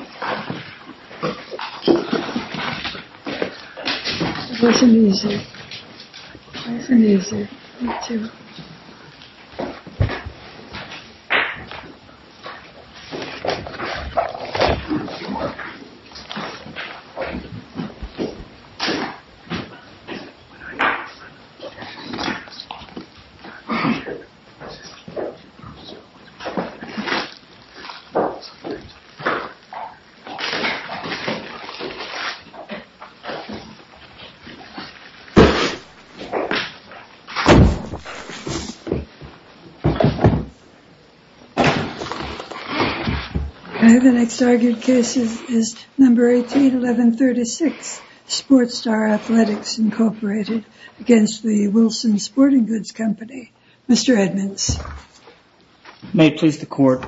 It wasn't easy. It wasn't easy. Me too. The next argued case is number 181136, SportsStar Athletics, Inc. v. Wilson Sporting Goods Company. Mr. Edmonds. May it please the Court.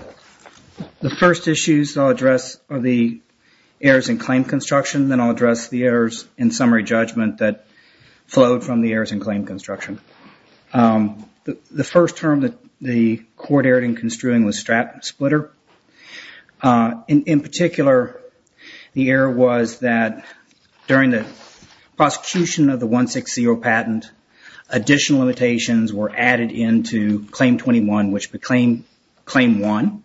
The first issues I'll address are the errors in claim construction. Then I'll address the errors in summary judgment that flowed from the errors in claim construction. The first term that the Court erred in construing was strap splitter. In particular, the error was that during the prosecution of the 160 patent, additional limitations were added into Claim 21, which would be Claim 1.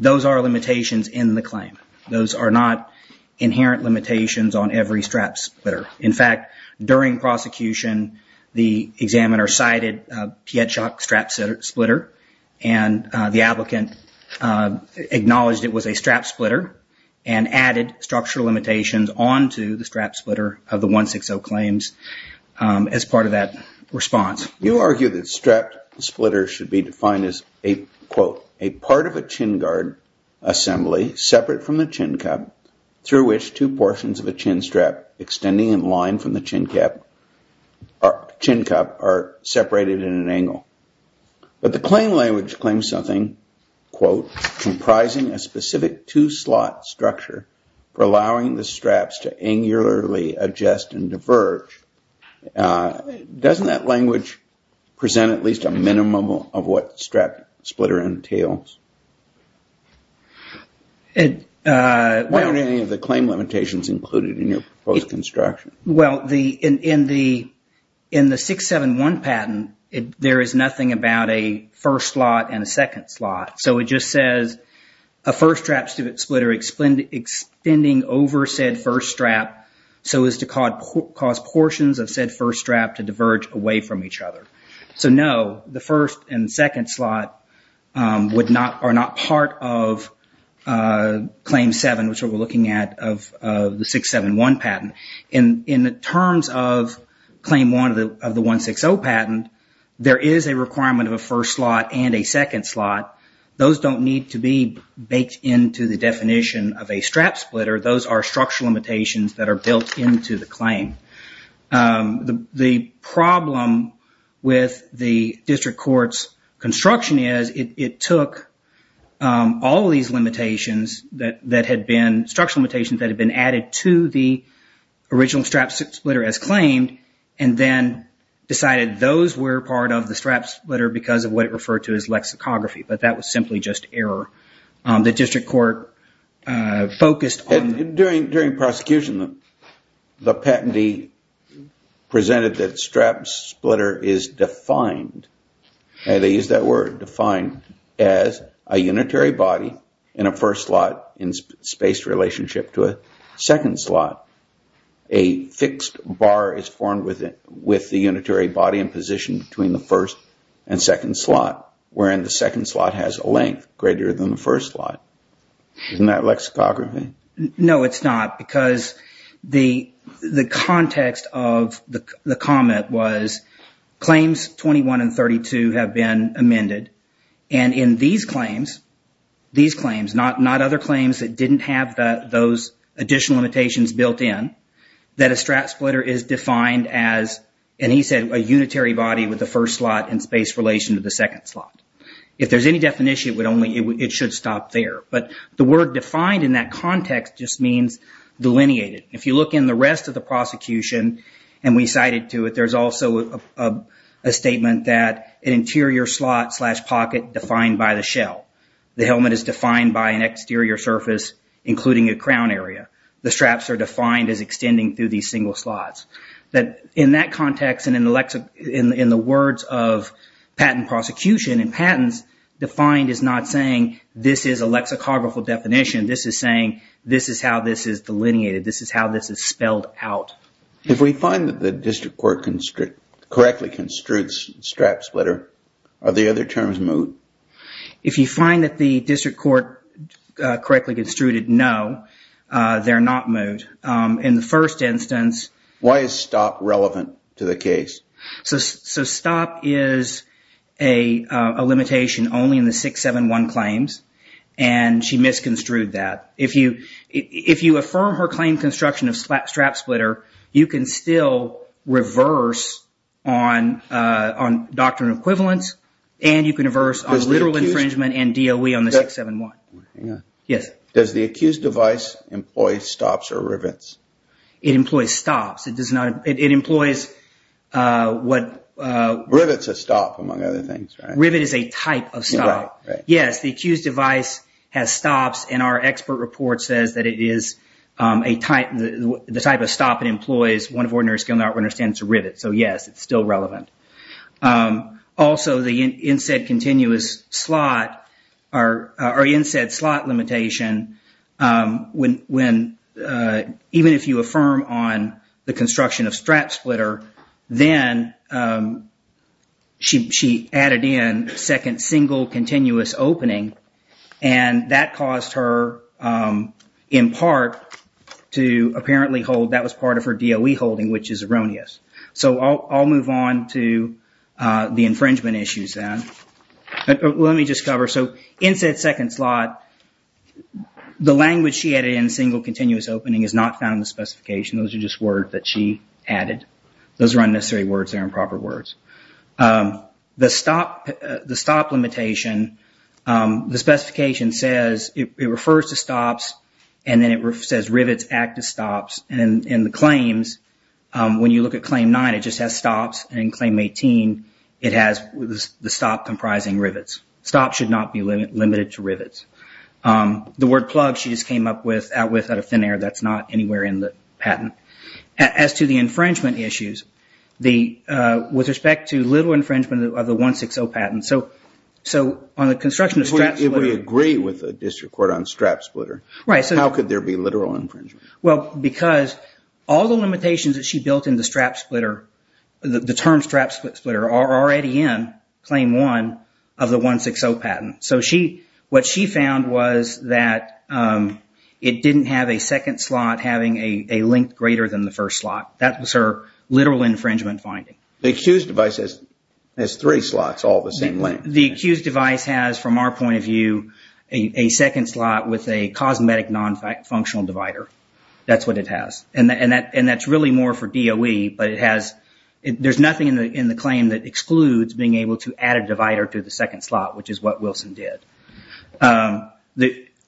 Those are limitations in the claim. Those are not inherent limitations on every strap splitter. In fact, during prosecution, the examiner cited Pietschok strap splitter and the applicant acknowledged it was a strap splitter and added structural limitations onto the strap splitter of the 160 claims as part of that response. You argue that strap splitter should be defined as, quote, a part of a chin guard assembly separate from the chin cup through which two portions of a chin strap extending in line from the chin cup are separated in an angle. But the claim language claims something, quote, comprising a specific two-slot structure for allowing the straps to angularly adjust and diverge. Doesn't that language present at least a minimum of what strap splitter entails? Why aren't any of the claim limitations included in your proposed construction? Well, in the 671 patent, there is nothing about a first slot and a second slot. So it just says a first strap splitter extending over said first strap so as to cause portions of said first strap to diverge away from each other. So no, the first and second slot are not part of Claim 7, which we're looking at, of the 671 patent. In the terms of Claim 1 of the 160 patent, there is a requirement of a first slot and a second slot. Those don't need to be baked into the definition of a strap splitter. Those are structural limitations that are built into the claim. The problem with the district court's construction is it took all of these limitations that had been, structural limitations that had been added to the original strap splitter as claimed, and then decided those were part of the strap splitter because of what it referred to as lexicography. But that was simply just error. During prosecution, the patentee presented that strap splitter is defined, they used that word, defined as a unitary body in a first slot in space relationship to a second slot. A fixed bar is formed with the unitary body in position between the first and second slot, wherein the second slot has a length greater than the first slot. Isn't that lexicography? No, it's not, because the context of the comment was claims 21 and 32 have been amended, and in these claims, these claims, not other claims that didn't have those additional limitations built in, that a strap splitter is defined as, and he said, a unitary body with a first slot in space relation to the second slot. If there's any definition, it should stop there, but the word defined in that context just means delineated. If you look in the rest of the prosecution, and we cited to it, there's also a statement that an interior slot slash pocket defined by the shell. The helmet is defined by an exterior surface, including a crown area. The straps are defined as extending through these single slots. In that context, and in the words of patent prosecution and patents, defined is not saying this is a lexicographical definition, this is saying this is how this is delineated, this is how this is spelled out. If we find that the district court correctly construed strap splitter, are the other terms moot? If you find that the district court correctly construed it, no, they're not moot. In the first instance... Why is stop relevant to the case? Stop is a limitation only in the 671 claims, and she misconstrued that. If you affirm her claim construction of strap splitter, you can still reverse on doctrinal equivalence, and you can reverse on literal infringement and DOE on the 671. Does the accused device employ stops or rivets? It employs stops. It employs what... Rivets a stop, among other things, right? Rivet is a type of stop. Yes, the accused device has stops, and our expert report says that it is the type of stop it employs, one of ordinary skill not to understand it's a rivet, so yes, it's still relevant. Also, the inset continuous slot, or inset slot limitation, even if you affirm on the construction of strap splitter, then she added in second single continuous opening, and that caused her, in part, to apparently hold... The infringement issues, then. Let me just cover... So, inset second slot, the language she added in, single continuous opening, is not found in the specification. Those are just words that she added. Those are unnecessary words. They're improper words. The stop limitation, the specification says it refers to stops, and then it says rivets act as stops, and in the claims, when you look at claim nine, it just has stops, and in claim 18, it has the stop comprising rivets. Stops should not be limited to rivets. The word plugs, she just came up with out of thin air. That's not anywhere in the patent. As to the infringement issues, with respect to little infringement of the 160 patent, so on the construction of strap splitter... If we agree with the district court on strap splitter, how could there be literal infringement? Well, because all the limitations that she built in the strap splitter, the term strap splitter, are already in claim one of the 160 patent. So, what she found was that it didn't have a second slot having a length greater than the first slot. That was her literal infringement finding. The accused device has three slots all the same length. The accused device has, from our point of view, a second slot with a cosmetic non-functional divider. That's what it has, and that's really more for DOE, but it has... There's nothing in the claim that excludes being able to add a divider to the second slot, which is what Wilson did.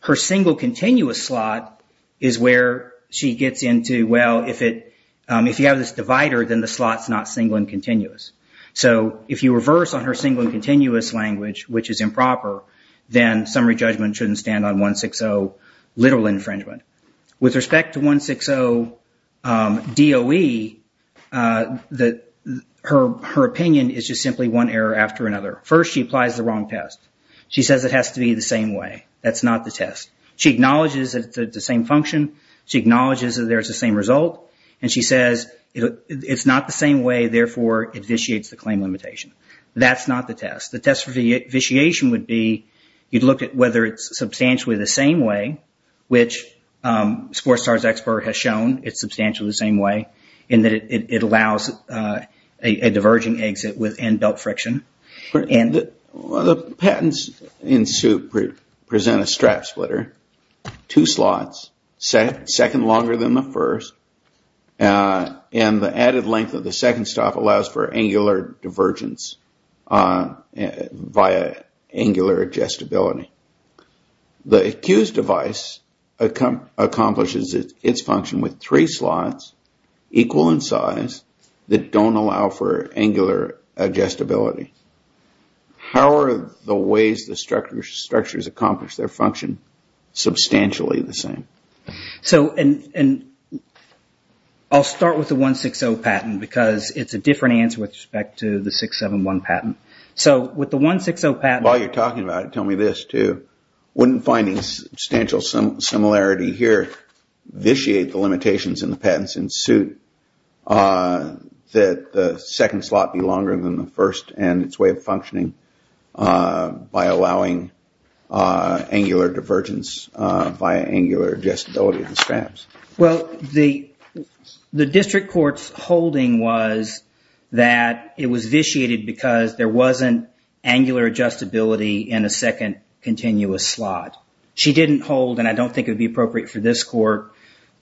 Her single continuous slot is where she gets into, well, if you have this divider, then the slot's not single and continuous. So, if you reverse on her single and continuous language, which is improper, then summary judgment shouldn't stand on 160 literal infringement. With respect to 160 DOE, her opinion is just simply one error after another. First, she applies the wrong test. She says it has to be the same way. That's not the test. She acknowledges that it's the same function. She acknowledges that there's the same result. And she says it's not the same way, therefore, it vitiates the claim limitation. That's not the test. The test for vitiation would be you'd look at whether it's substantially the same way, which Sportstar's expert has shown it's substantially the same way, in that it allows a diverging exit and belt friction. The patents in suit present a strap splitter, two slots, second longer than the first, and the added length of the second stop allows for angular divergence via angular adjustability. The accused device accomplishes its function with three slots equal in size that don't allow for angular adjustability. How are the ways the structures accomplish their function substantially the same? So, I'll start with the 160 patent because it's a different answer with respect to the 671 patent. While you're talking about it, tell me this too. Wouldn't finding substantial similarity here vitiate the limitations in the patents in suit that the second slot be longer than the first and its way of functioning by allowing angular divergence via angular adjustability of the straps? Well, the district court's holding was that it was vitiated because there wasn't angular adjustability in a second continuous slot. She didn't hold, and I don't think it would be appropriate for this court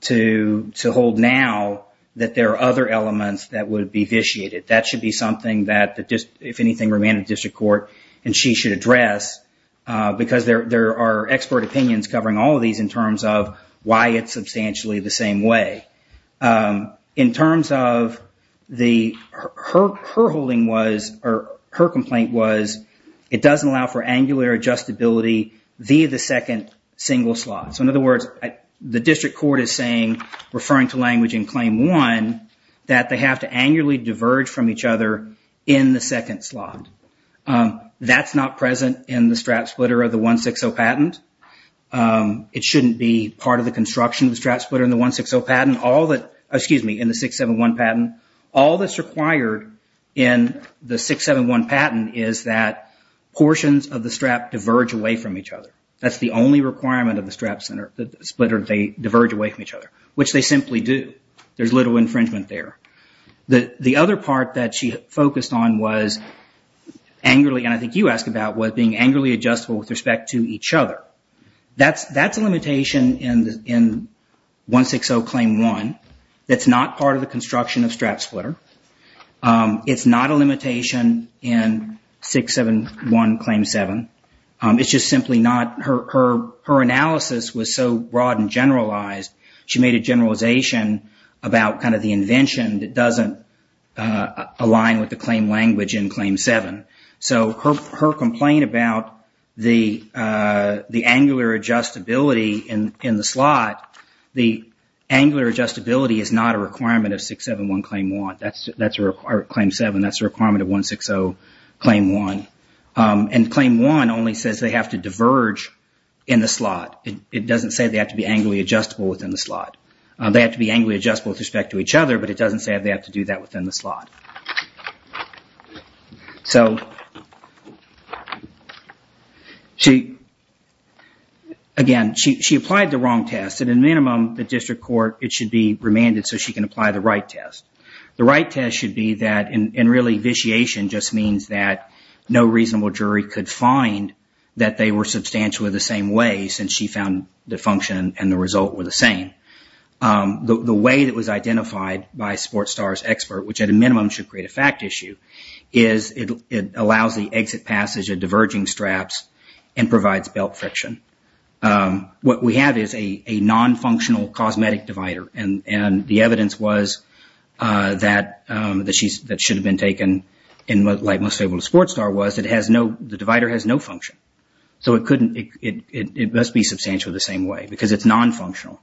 to hold now, that there are other elements that would be vitiated. That should be something that, if anything, remain in the district court and she should address because there are expert opinions covering all of these in terms of why it's substantially the same way. In terms of the, her holding was, or her complaint was, it doesn't allow for angular adjustability via the second single slot. So, in other words, the district court is saying, referring to language in claim one, that they have to annually diverge from each other in the second slot. That's not present in the strap splitter of the 160 patent. It shouldn't be part of the construction of the strap splitter in the 160 patent. All that, excuse me, in the 671 patent, all that's required in the 671 patent is that portions of the strap diverge away from each other. That's the only requirement of the strap splitter. They diverge away from each other, which they simply do. There's little infringement there. The other part that she focused on was angrily, and I think you asked about, was being angrily adjustable with respect to each other. That's a limitation in 160 claim one. That's not part of the construction of strap splitter. It's not a limitation in 671 claim seven. It's just simply not, her analysis was so broad and generalized, she made a generalization about kind of the invention that doesn't align with the claim language in claim seven. Her complaint about the angular adjustability in the slot, the angular adjustability is not a requirement of 671 claim one. That's a claim seven, that's a requirement of 160 claim one. Claim one only says they have to diverge in the slot. It doesn't say they have to be angrily adjustable within the slot. They have to be angrily adjustable with respect to each other, but it doesn't say they have to do that within the slot. Again, she applied the wrong test. At a minimum, the district court, it should be remanded so she can apply the right test. The right test should be that, and really, vitiation just means that no reasonable jury could find that they were substantially the same way since she found the function and the result were the same. The way that was identified by Sportstar's expert, which at a minimum should create a fact issue, is it allows the exit passage of diverging straps and provides belt friction. What we have is a non-functional cosmetic divider, and the evidence was that should have been taken, and like most people at Sportstar was, the divider has no function. So it must be substantially the same way because it's non-functional.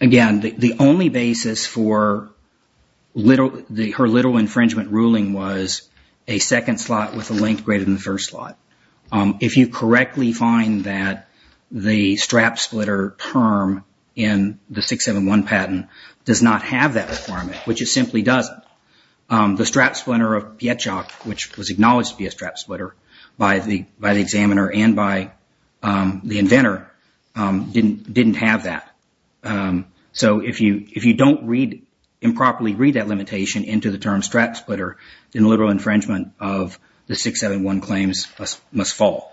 Again, the only basis for her little infringement ruling was a second slot with a length greater than the first slot. If you correctly find that the strap splitter term in the 671 patent does not have that requirement, which it simply doesn't, the strap splitter of Pietschok, which was acknowledged to be a strap splitter by the examiner and by the inventor, didn't have that. So if you don't improperly read that limitation into the term strap splitter, then a literal infringement of the 671 claims must fall.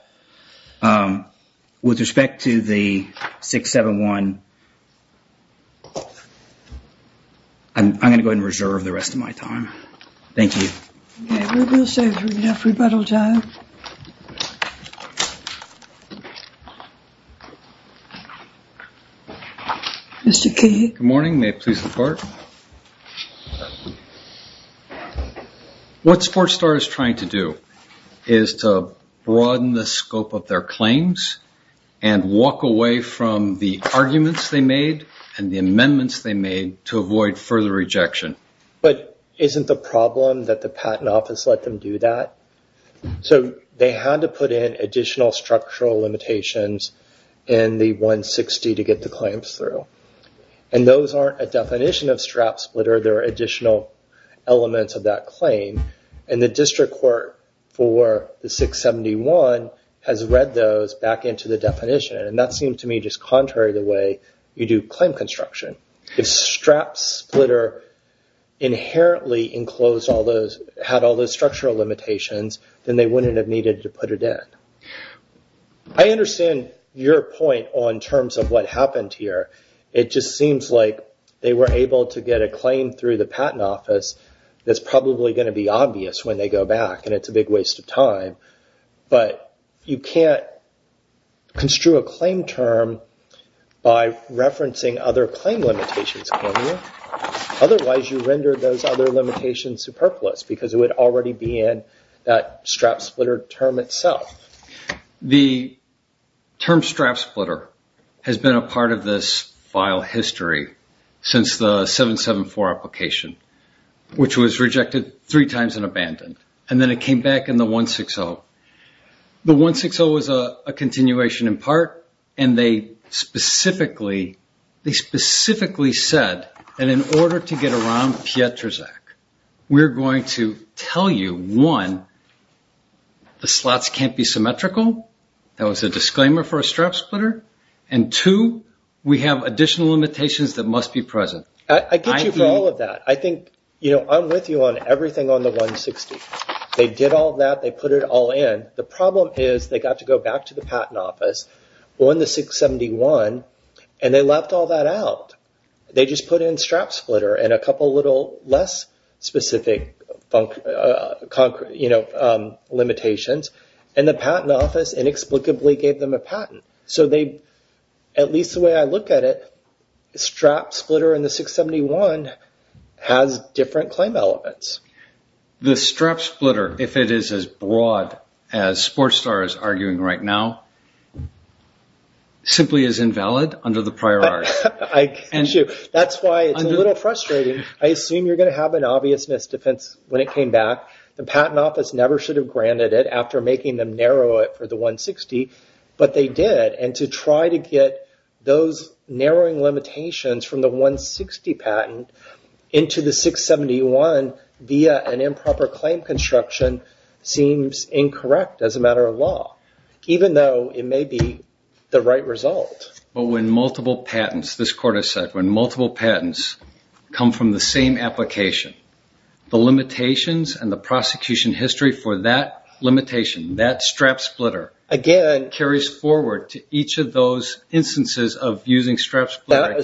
With respect to the 671, I'm going to go ahead and reserve the rest of my time. Thank you. Good morning, may it please the court. What Sportstar is trying to do is to broaden the scope of their claims and walk away from the arguments they made and the amendments they made to avoid further rejection. But isn't the problem that the patent office let them do that? So they had to put in additional structural limitations in the 160 to get the claims through. And those aren't a definition of strap splitter. They're additional elements of that claim. And the district court for the 671 has read those back into the definition. And that seemed to me just contrary to the way you do claim construction. If strap splitter inherently enclosed all those, had all those structural limitations, then they wouldn't have needed to put it in. I understand your point on terms of what happened here. It just seems like they were able to get a claim through the patent office that's probably going to be obvious when they go back, and it's a big waste of time. But you can't construe a claim term by referencing other claim limitations, can you? Otherwise, you render those other limitations superfluous because it would already be in that strap splitter term itself. The term strap splitter has been a part of this file history since the 774 application, which was rejected three times and abandoned. And then it came back in the 160. The 160 was a continuation in part, and they specifically said that in order to get around Pietrzak, we're going to tell you, one, the slots can't be symmetrical. That was a disclaimer for a strap splitter. And two, we have additional limitations that must be present. I get you for all of that. I'm with you on everything on the 160. They did all that. They put it all in. The problem is they got to go back to the patent office on the 671, and they left all that out. They just put in strap splitter and a couple of little less specific limitations, and the patent office inexplicably gave them a patent. So at least the way I look at it, strap splitter in the 671 has different claim elements. The strap splitter, if it is as broad as SportsStar is arguing right now, simply is invalid under the prior art. That's why it's a little frustrating. I assume you're going to have an obvious misdefense when it came back. The patent office never should have granted it after making them narrow it for the 160, but they did, and to try to get those narrowing limitations from the 160 patent into the 671 via an improper claim construction seems incorrect as a matter of law, even though it may be the right result. But when multiple patents, this court has said, when multiple patents come from the same application, the limitations and the prosecution history for that limitation, that strap splitter, carries forward to each of those instances of using strap splitter.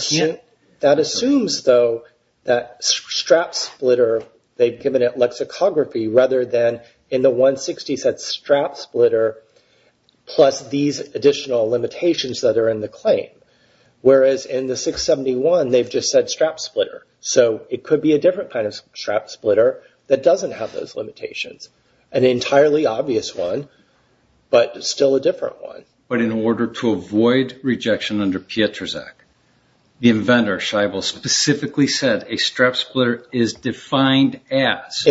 That assumes, though, that strap splitter, they've given it lexicography rather than in the 160 said strap splitter plus these additional limitations that are in the claim, whereas in the 671 they've just said strap splitter. So it could be a different kind of strap splitter that doesn't have those limitations, an entirely obvious one, but still a different one. But in order to avoid rejection under Pietrzak, the inventor Scheibel specifically said a strap splitter is defined as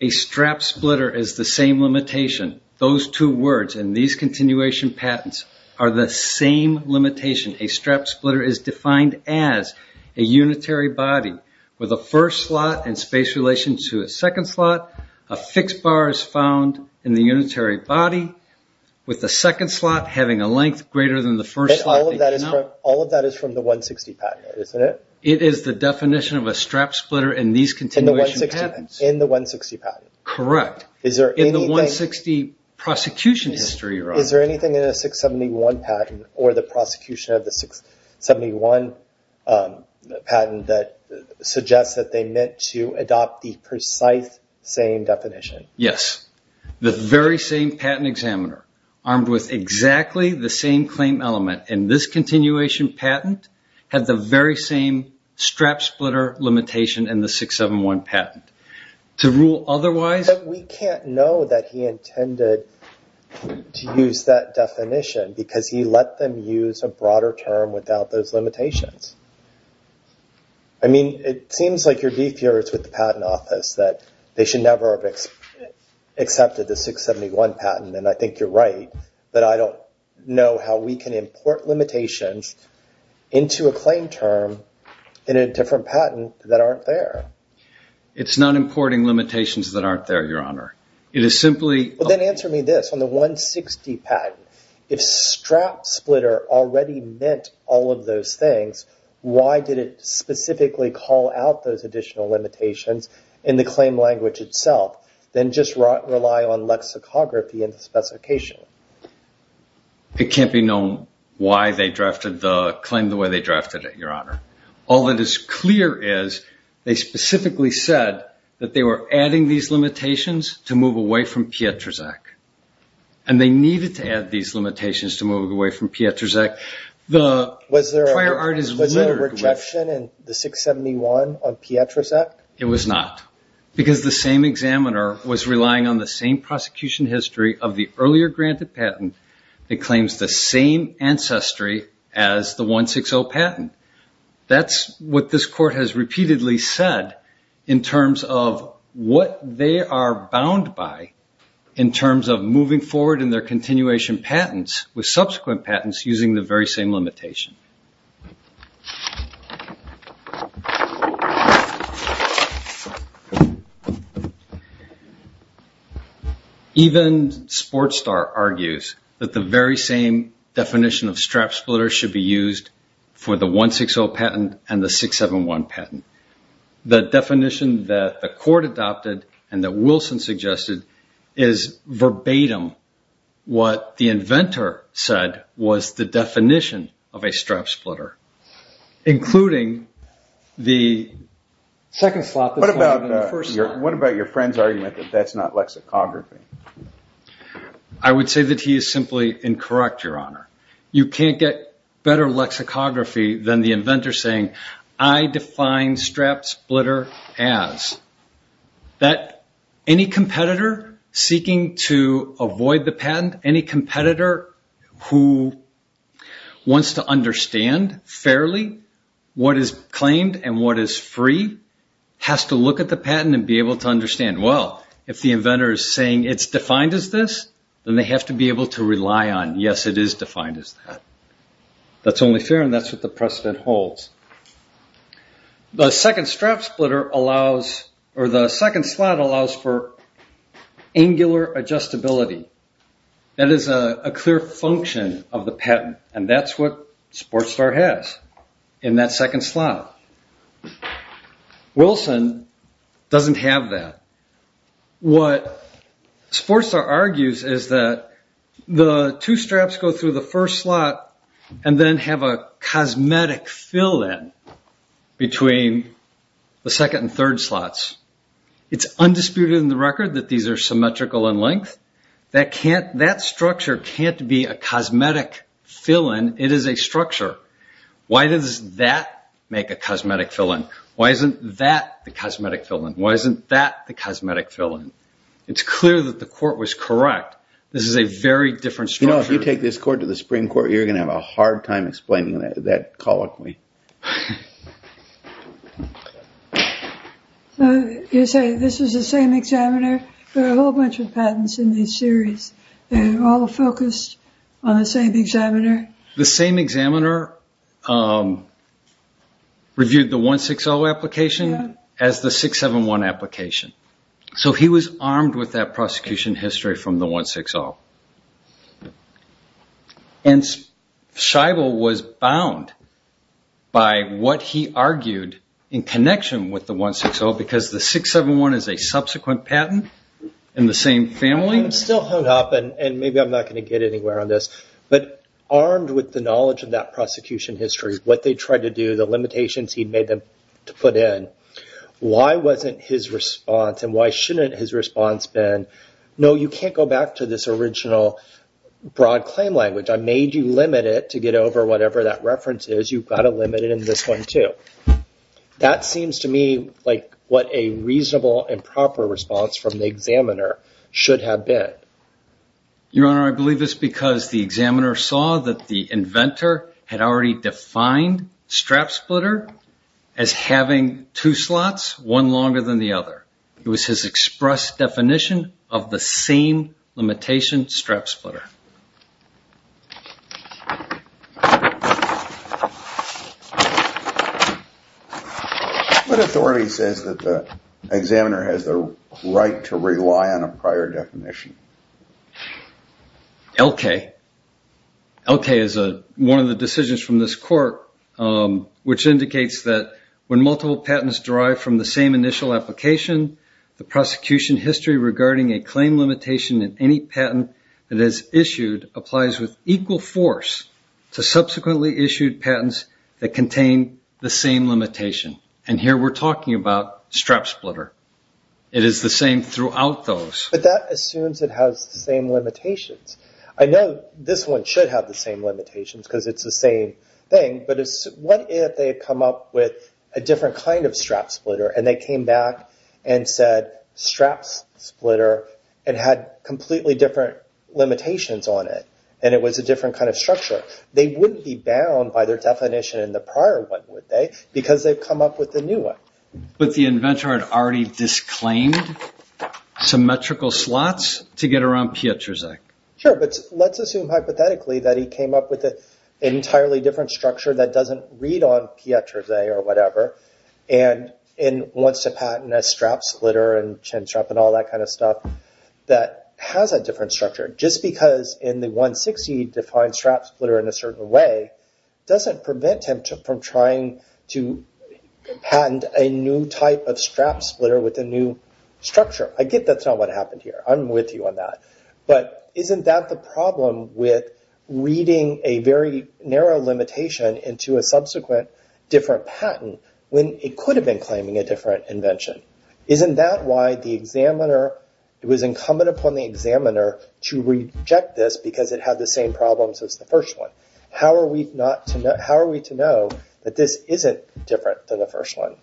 A strap splitter is the same limitation. Those two words and these continuation patents are the same limitation. A strap splitter is defined as a unitary body with a first slot in space relation to a second slot. A fixed bar is found in the unitary body with the second slot having a length greater than the first slot. But all of that is from the 160 patent, isn't it? It is the definition of a strap splitter in these continuation patents. In the 160 patent? Correct. In the 160 prosecution history. Is there anything in the 671 patent or the prosecution of the 671 patent that suggests that they meant to adopt the precise same definition? Yes. The very same patent examiner armed with exactly the same claim element in this continuation patent had the very same strap splitter limitation in the 671 patent. To rule otherwise... But we can't know that he intended to use that definition because he let them use a broader term without those limitations. It seems like you're beefier with the patent office that they should never have accepted the 671 patent. And I think you're right that I don't know how we can import limitations into a claim term in a different patent that aren't there. It's not importing limitations that aren't there, Your Honor. It is simply... Then answer me this. On the 160 patent, if strap splitter already meant all of those things, why did it specifically call out those additional limitations in the claim language itself than just rely on lexicography in the specification? It can't be known why they claimed the way they drafted it, Your Honor. All that is clear is they specifically said that they were adding these limitations to move away from Pietrzak, and they needed to add these limitations to move away from Pietrzak. Was there a rejection in the 671 on Pietrzak? It was not. Because the same examiner was relying on the same prosecution history of the earlier granted patent that claims the same ancestry as the 160 patent. That's what this court has repeatedly said in terms of what they are bound by in terms of moving forward in their continuation patents with subsequent patents using the very same limitation. Even Sportstar argues that the very same definition of strap splitter should be used for the 160 patent and the 671 patent. The definition that the court adopted and that Wilson suggested is verbatim what the inventor said was the definition of a strap splitter. What about your friend's argument that that's not lexicography? I would say that he is simply incorrect, Your Honor. You can't get better lexicography than the inventor saying, I define strap splitter as that any competitor seeking to avoid the patent, any competitor who wants to understand fairly what is claimed and what is free, has to look at the patent and be able to understand, well, if the inventor is saying it's defined as this, then they have to be able to rely on, yes, it is defined as that. That's only fair and that's what the precedent holds. The second slot allows for angular adjustability. That is a clear function of the patent and that's what Sportstar has in that second slot. Wilson doesn't have that. What Sportstar argues is that the two straps go through the first slot and then have a cosmetic fill-in between the second and third slots. It's undisputed in the record that these are symmetrical in length. That structure can't be a cosmetic fill-in. It is a structure. Why does that make a cosmetic fill-in? Why isn't that the cosmetic fill-in? Why isn't that the cosmetic fill-in? It's clear that the court was correct. This is a very different structure. You know, if you take this court to the Supreme Court, you're going to have a hard time explaining that colloquy. You're saying this is the same examiner? There are a whole bunch of patents in this series. They're all focused on the same examiner? The same examiner reviewed the 160 application as the 671 application. He was armed with that prosecution history from the 160. Scheibel was bound by what he argued in connection with the 160 because the 671 is a subsequent patent in the same family. I'm still hung up and maybe I'm not going to get anywhere on this. But armed with the knowledge of that prosecution history, what they tried to do, the limitations he made them to put in, why wasn't his response and why shouldn't his response been, no, you can't go back to this original broad claim language. I made you limit it to get over whatever that reference is. You've got to limit it in this one too. That seems to me like what a reasonable and proper response from the examiner should have been. Your Honor, I believe this because the examiner saw that the inventor had already defined strap splitter as having two slots, one longer than the other. It was his express definition of the same limitation strap splitter. What authority says that the examiner has the right to rely on a prior definition? LK. LK is one of the decisions from this court which indicates that when multiple patents derive from the same initial application, the prosecution history regarding a claim limitation in any patent that is issued applies with equal force to subsequently issued patents that contain the same limitation. Here we're talking about strap splitter. It is the same throughout those. But that assumes it has the same limitations. I know this one should have the same limitations because it's the same thing, but what if they had come up with a different kind of strap splitter and they came back and said strap splitter and had completely different limitations on it and it was a different kind of structure? They wouldn't be bound by their definition in the prior one, would they? Because they've come up with a new one. But the inventor had already disclaimed symmetrical slots to get around Pieterse. Sure, but let's assume hypothetically that he came up with an entirely different structure that doesn't read on Pieterse or whatever and wants to patent a strap splitter and chin strap and all that kind of stuff that has a different structure. Just because in the 160 he defines strap splitter in a certain way doesn't prevent him from trying to patent a new type of strap splitter with a new structure. I get that's not what happened here. I'm with you on that. But isn't that the problem with reading a very narrow limitation into a subsequent different patent when it could have been claiming a different invention? Isn't that why it was incumbent upon the examiner to reject this because it had the same problems as the first one? How are we to know that this isn't different than the first one?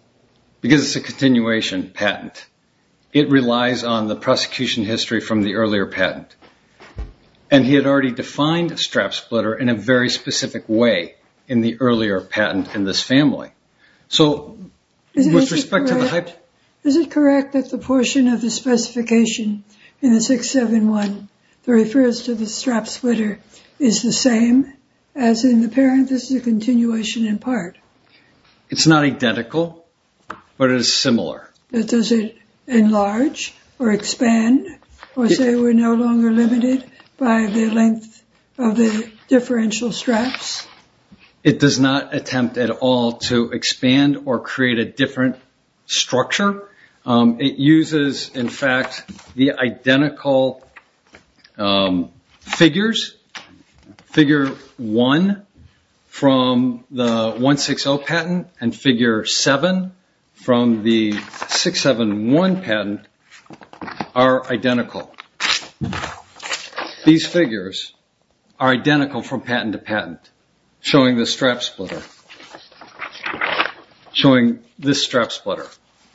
Because it's a continuation patent. It relies on the prosecution history from the earlier patent. And he had already defined strap splitter in a very specific way in the earlier patent in this family. Is it correct that the portion of the specification in the 671 that refers to the strap splitter is the same as in the parent? This is a continuation in part. It's not identical, but it is similar. Does it enlarge or expand or say we're no longer limited by the length of the differential straps? It does not attempt at all to expand or create a different structure. It uses, in fact, the identical figures, figure 1 from the 160 patent and figure 7 from the 671 patent are identical. These figures are identical from patent to patent showing the strap splitter, showing this strap splitter,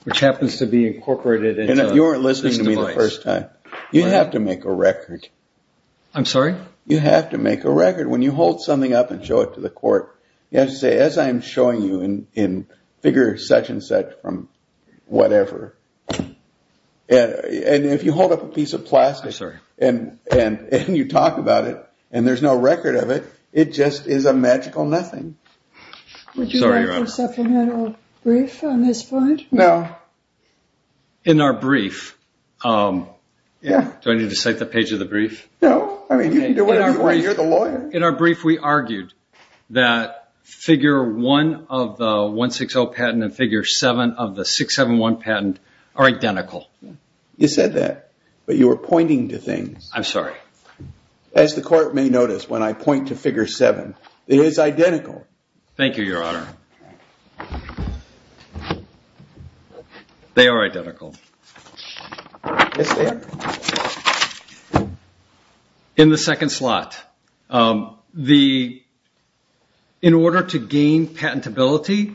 which happens to be incorporated into this device. And if you weren't listening to me the first time, you have to make a record. I'm sorry? You have to make a record. When you hold something up and show it to the court, you have to say, as I'm showing you in figure such and such from whatever, and if you hold up a piece of plastic and you talk about it and there's no record of it, it just is a magical nothing. Would you like a supplemental brief on this point? No. In our brief, do I need to cite the page of the brief? No. I mean, you can do whatever you want. You're the lawyer. In our brief, we argued that figure 1 of the 160 patent and figure 7 of the 671 patent are identical. You said that, but you were pointing to things. I'm sorry. As the court may notice when I point to figure 7, it is identical. Thank you, Your Honor. They are identical. In the second slot, in order to gain patentability,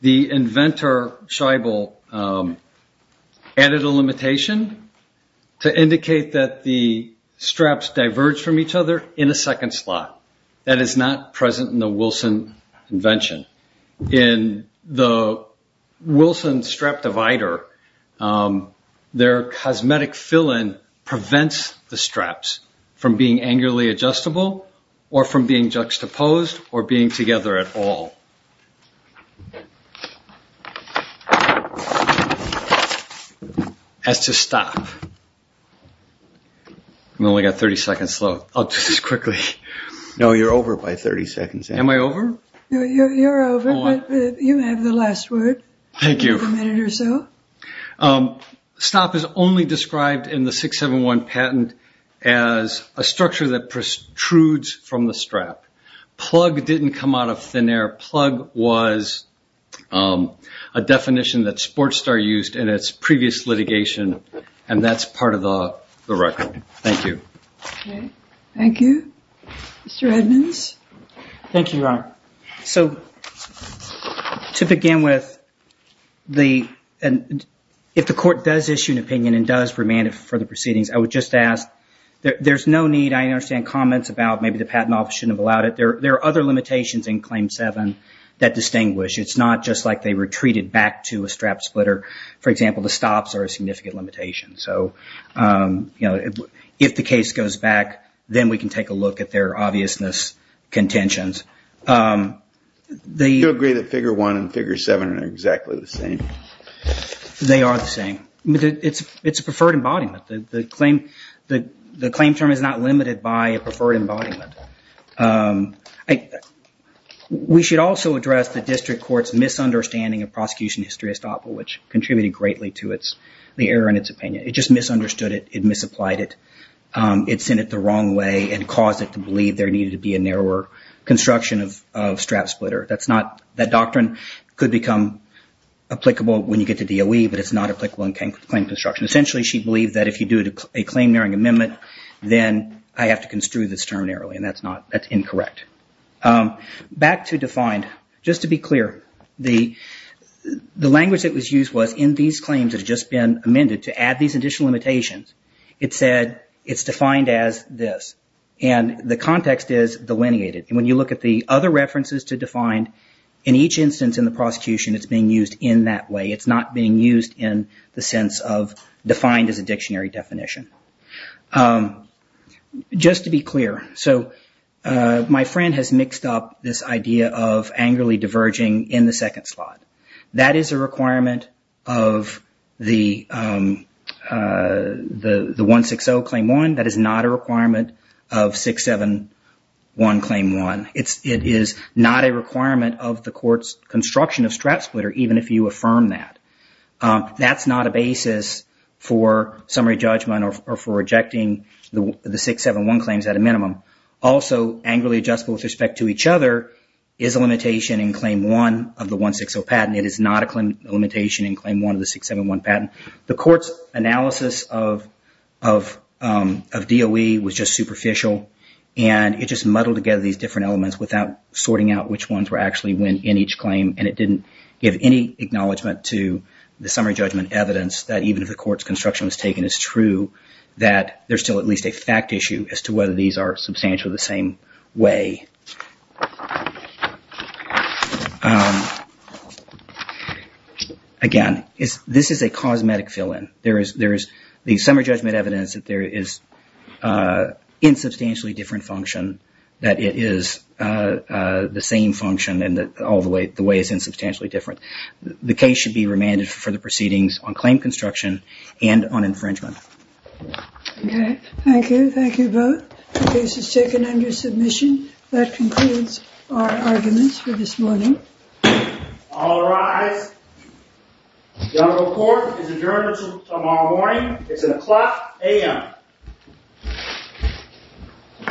the inventor Scheibel added a limitation to indicate that the straps diverge from each other in a second slot. That is not present in the Wilson invention. In the Wilson strap divider, their cosmetic fill-in prevents the straps from being angularly adjustable or from being juxtaposed or being together at all. That's to stop. I've only got 30 seconds left. I'll do this quickly. No, you're over by 30 seconds. Am I over? You're over, but you have the last word. You have a minute or so. Stop is only described in the 671 patent as a structure that protrudes from the strap. Plug didn't come out of thin air. Plug was a definition that Sportstar used in its previous litigation, and that's part of the record. Thank you. Thank you. Mr. Edmonds? Thank you, Ryan. So to begin with, if the court does issue an opinion and does remand it for the proceedings, I would just ask, there's no need, I understand, comments about maybe the patent office shouldn't have allowed it. There are other limitations in Claim 7 that distinguish. It's not just like they were treated back to a strap splitter. For example, the stops are a significant limitation. So if the case goes back, then we can take a look at their obviousness contentions. Do you agree that Figure 1 and Figure 7 are exactly the same? They are the same. It's a preferred embodiment. The claim term is not limited by a preferred embodiment. We should also address the district court's misunderstanding of prosecution history estoppel, which contributed greatly to the error in its opinion. It just misunderstood it. It misapplied it. It sent it the wrong way and caused it to believe there needed to be a narrower construction of strap splitter. That doctrine could become applicable when you get to DOE, but it's not applicable in claim construction. Essentially, she believed that if you do a claim-nearing amendment, then I have to construe this term narrowly, and that's incorrect. Back to defined. Just to be clear, the language that was used was, in these claims that have just been amended, to add these additional limitations, it said it's defined as this, and the context is delineated. When you look at the other references to defined, in each instance in the prosecution it's being used in that way. It's not being used in the sense of defined as a dictionary definition. Just to be clear, my friend has mixed up this idea of angrily diverging in the second slot. That is a requirement of the 160 Claim 1. That is not a requirement of 671 Claim 1. It is not a requirement of the court's construction of strap splitter, even if you affirm that. That's not a basis for summary judgment or for rejecting the 671 claims at a minimum. Also, angrily adjustable with respect to each other is a limitation in Claim 1 of the 160 patent. It is not a limitation in Claim 1 of the 671 patent. The court's analysis of DOE was just superficial, and it just muddled together these different elements without sorting out which ones were actually in each claim, and it didn't give any acknowledgment to the summary judgment evidence that even if the court's construction was taken as true, that there's still at least a fact issue as to whether these are substantially the same way. Again, this is a cosmetic fill-in. There is the summary judgment evidence that there is an insubstantially different function, that it is the same function and that the way is insubstantially different. The case should be remanded for the proceedings on claim construction and on infringement. Okay. Thank you. Thank you both. The case is taken under submission. That concludes our arguments for this morning. All rise. General Court is adjourned until tomorrow morning. It's at o'clock a.m.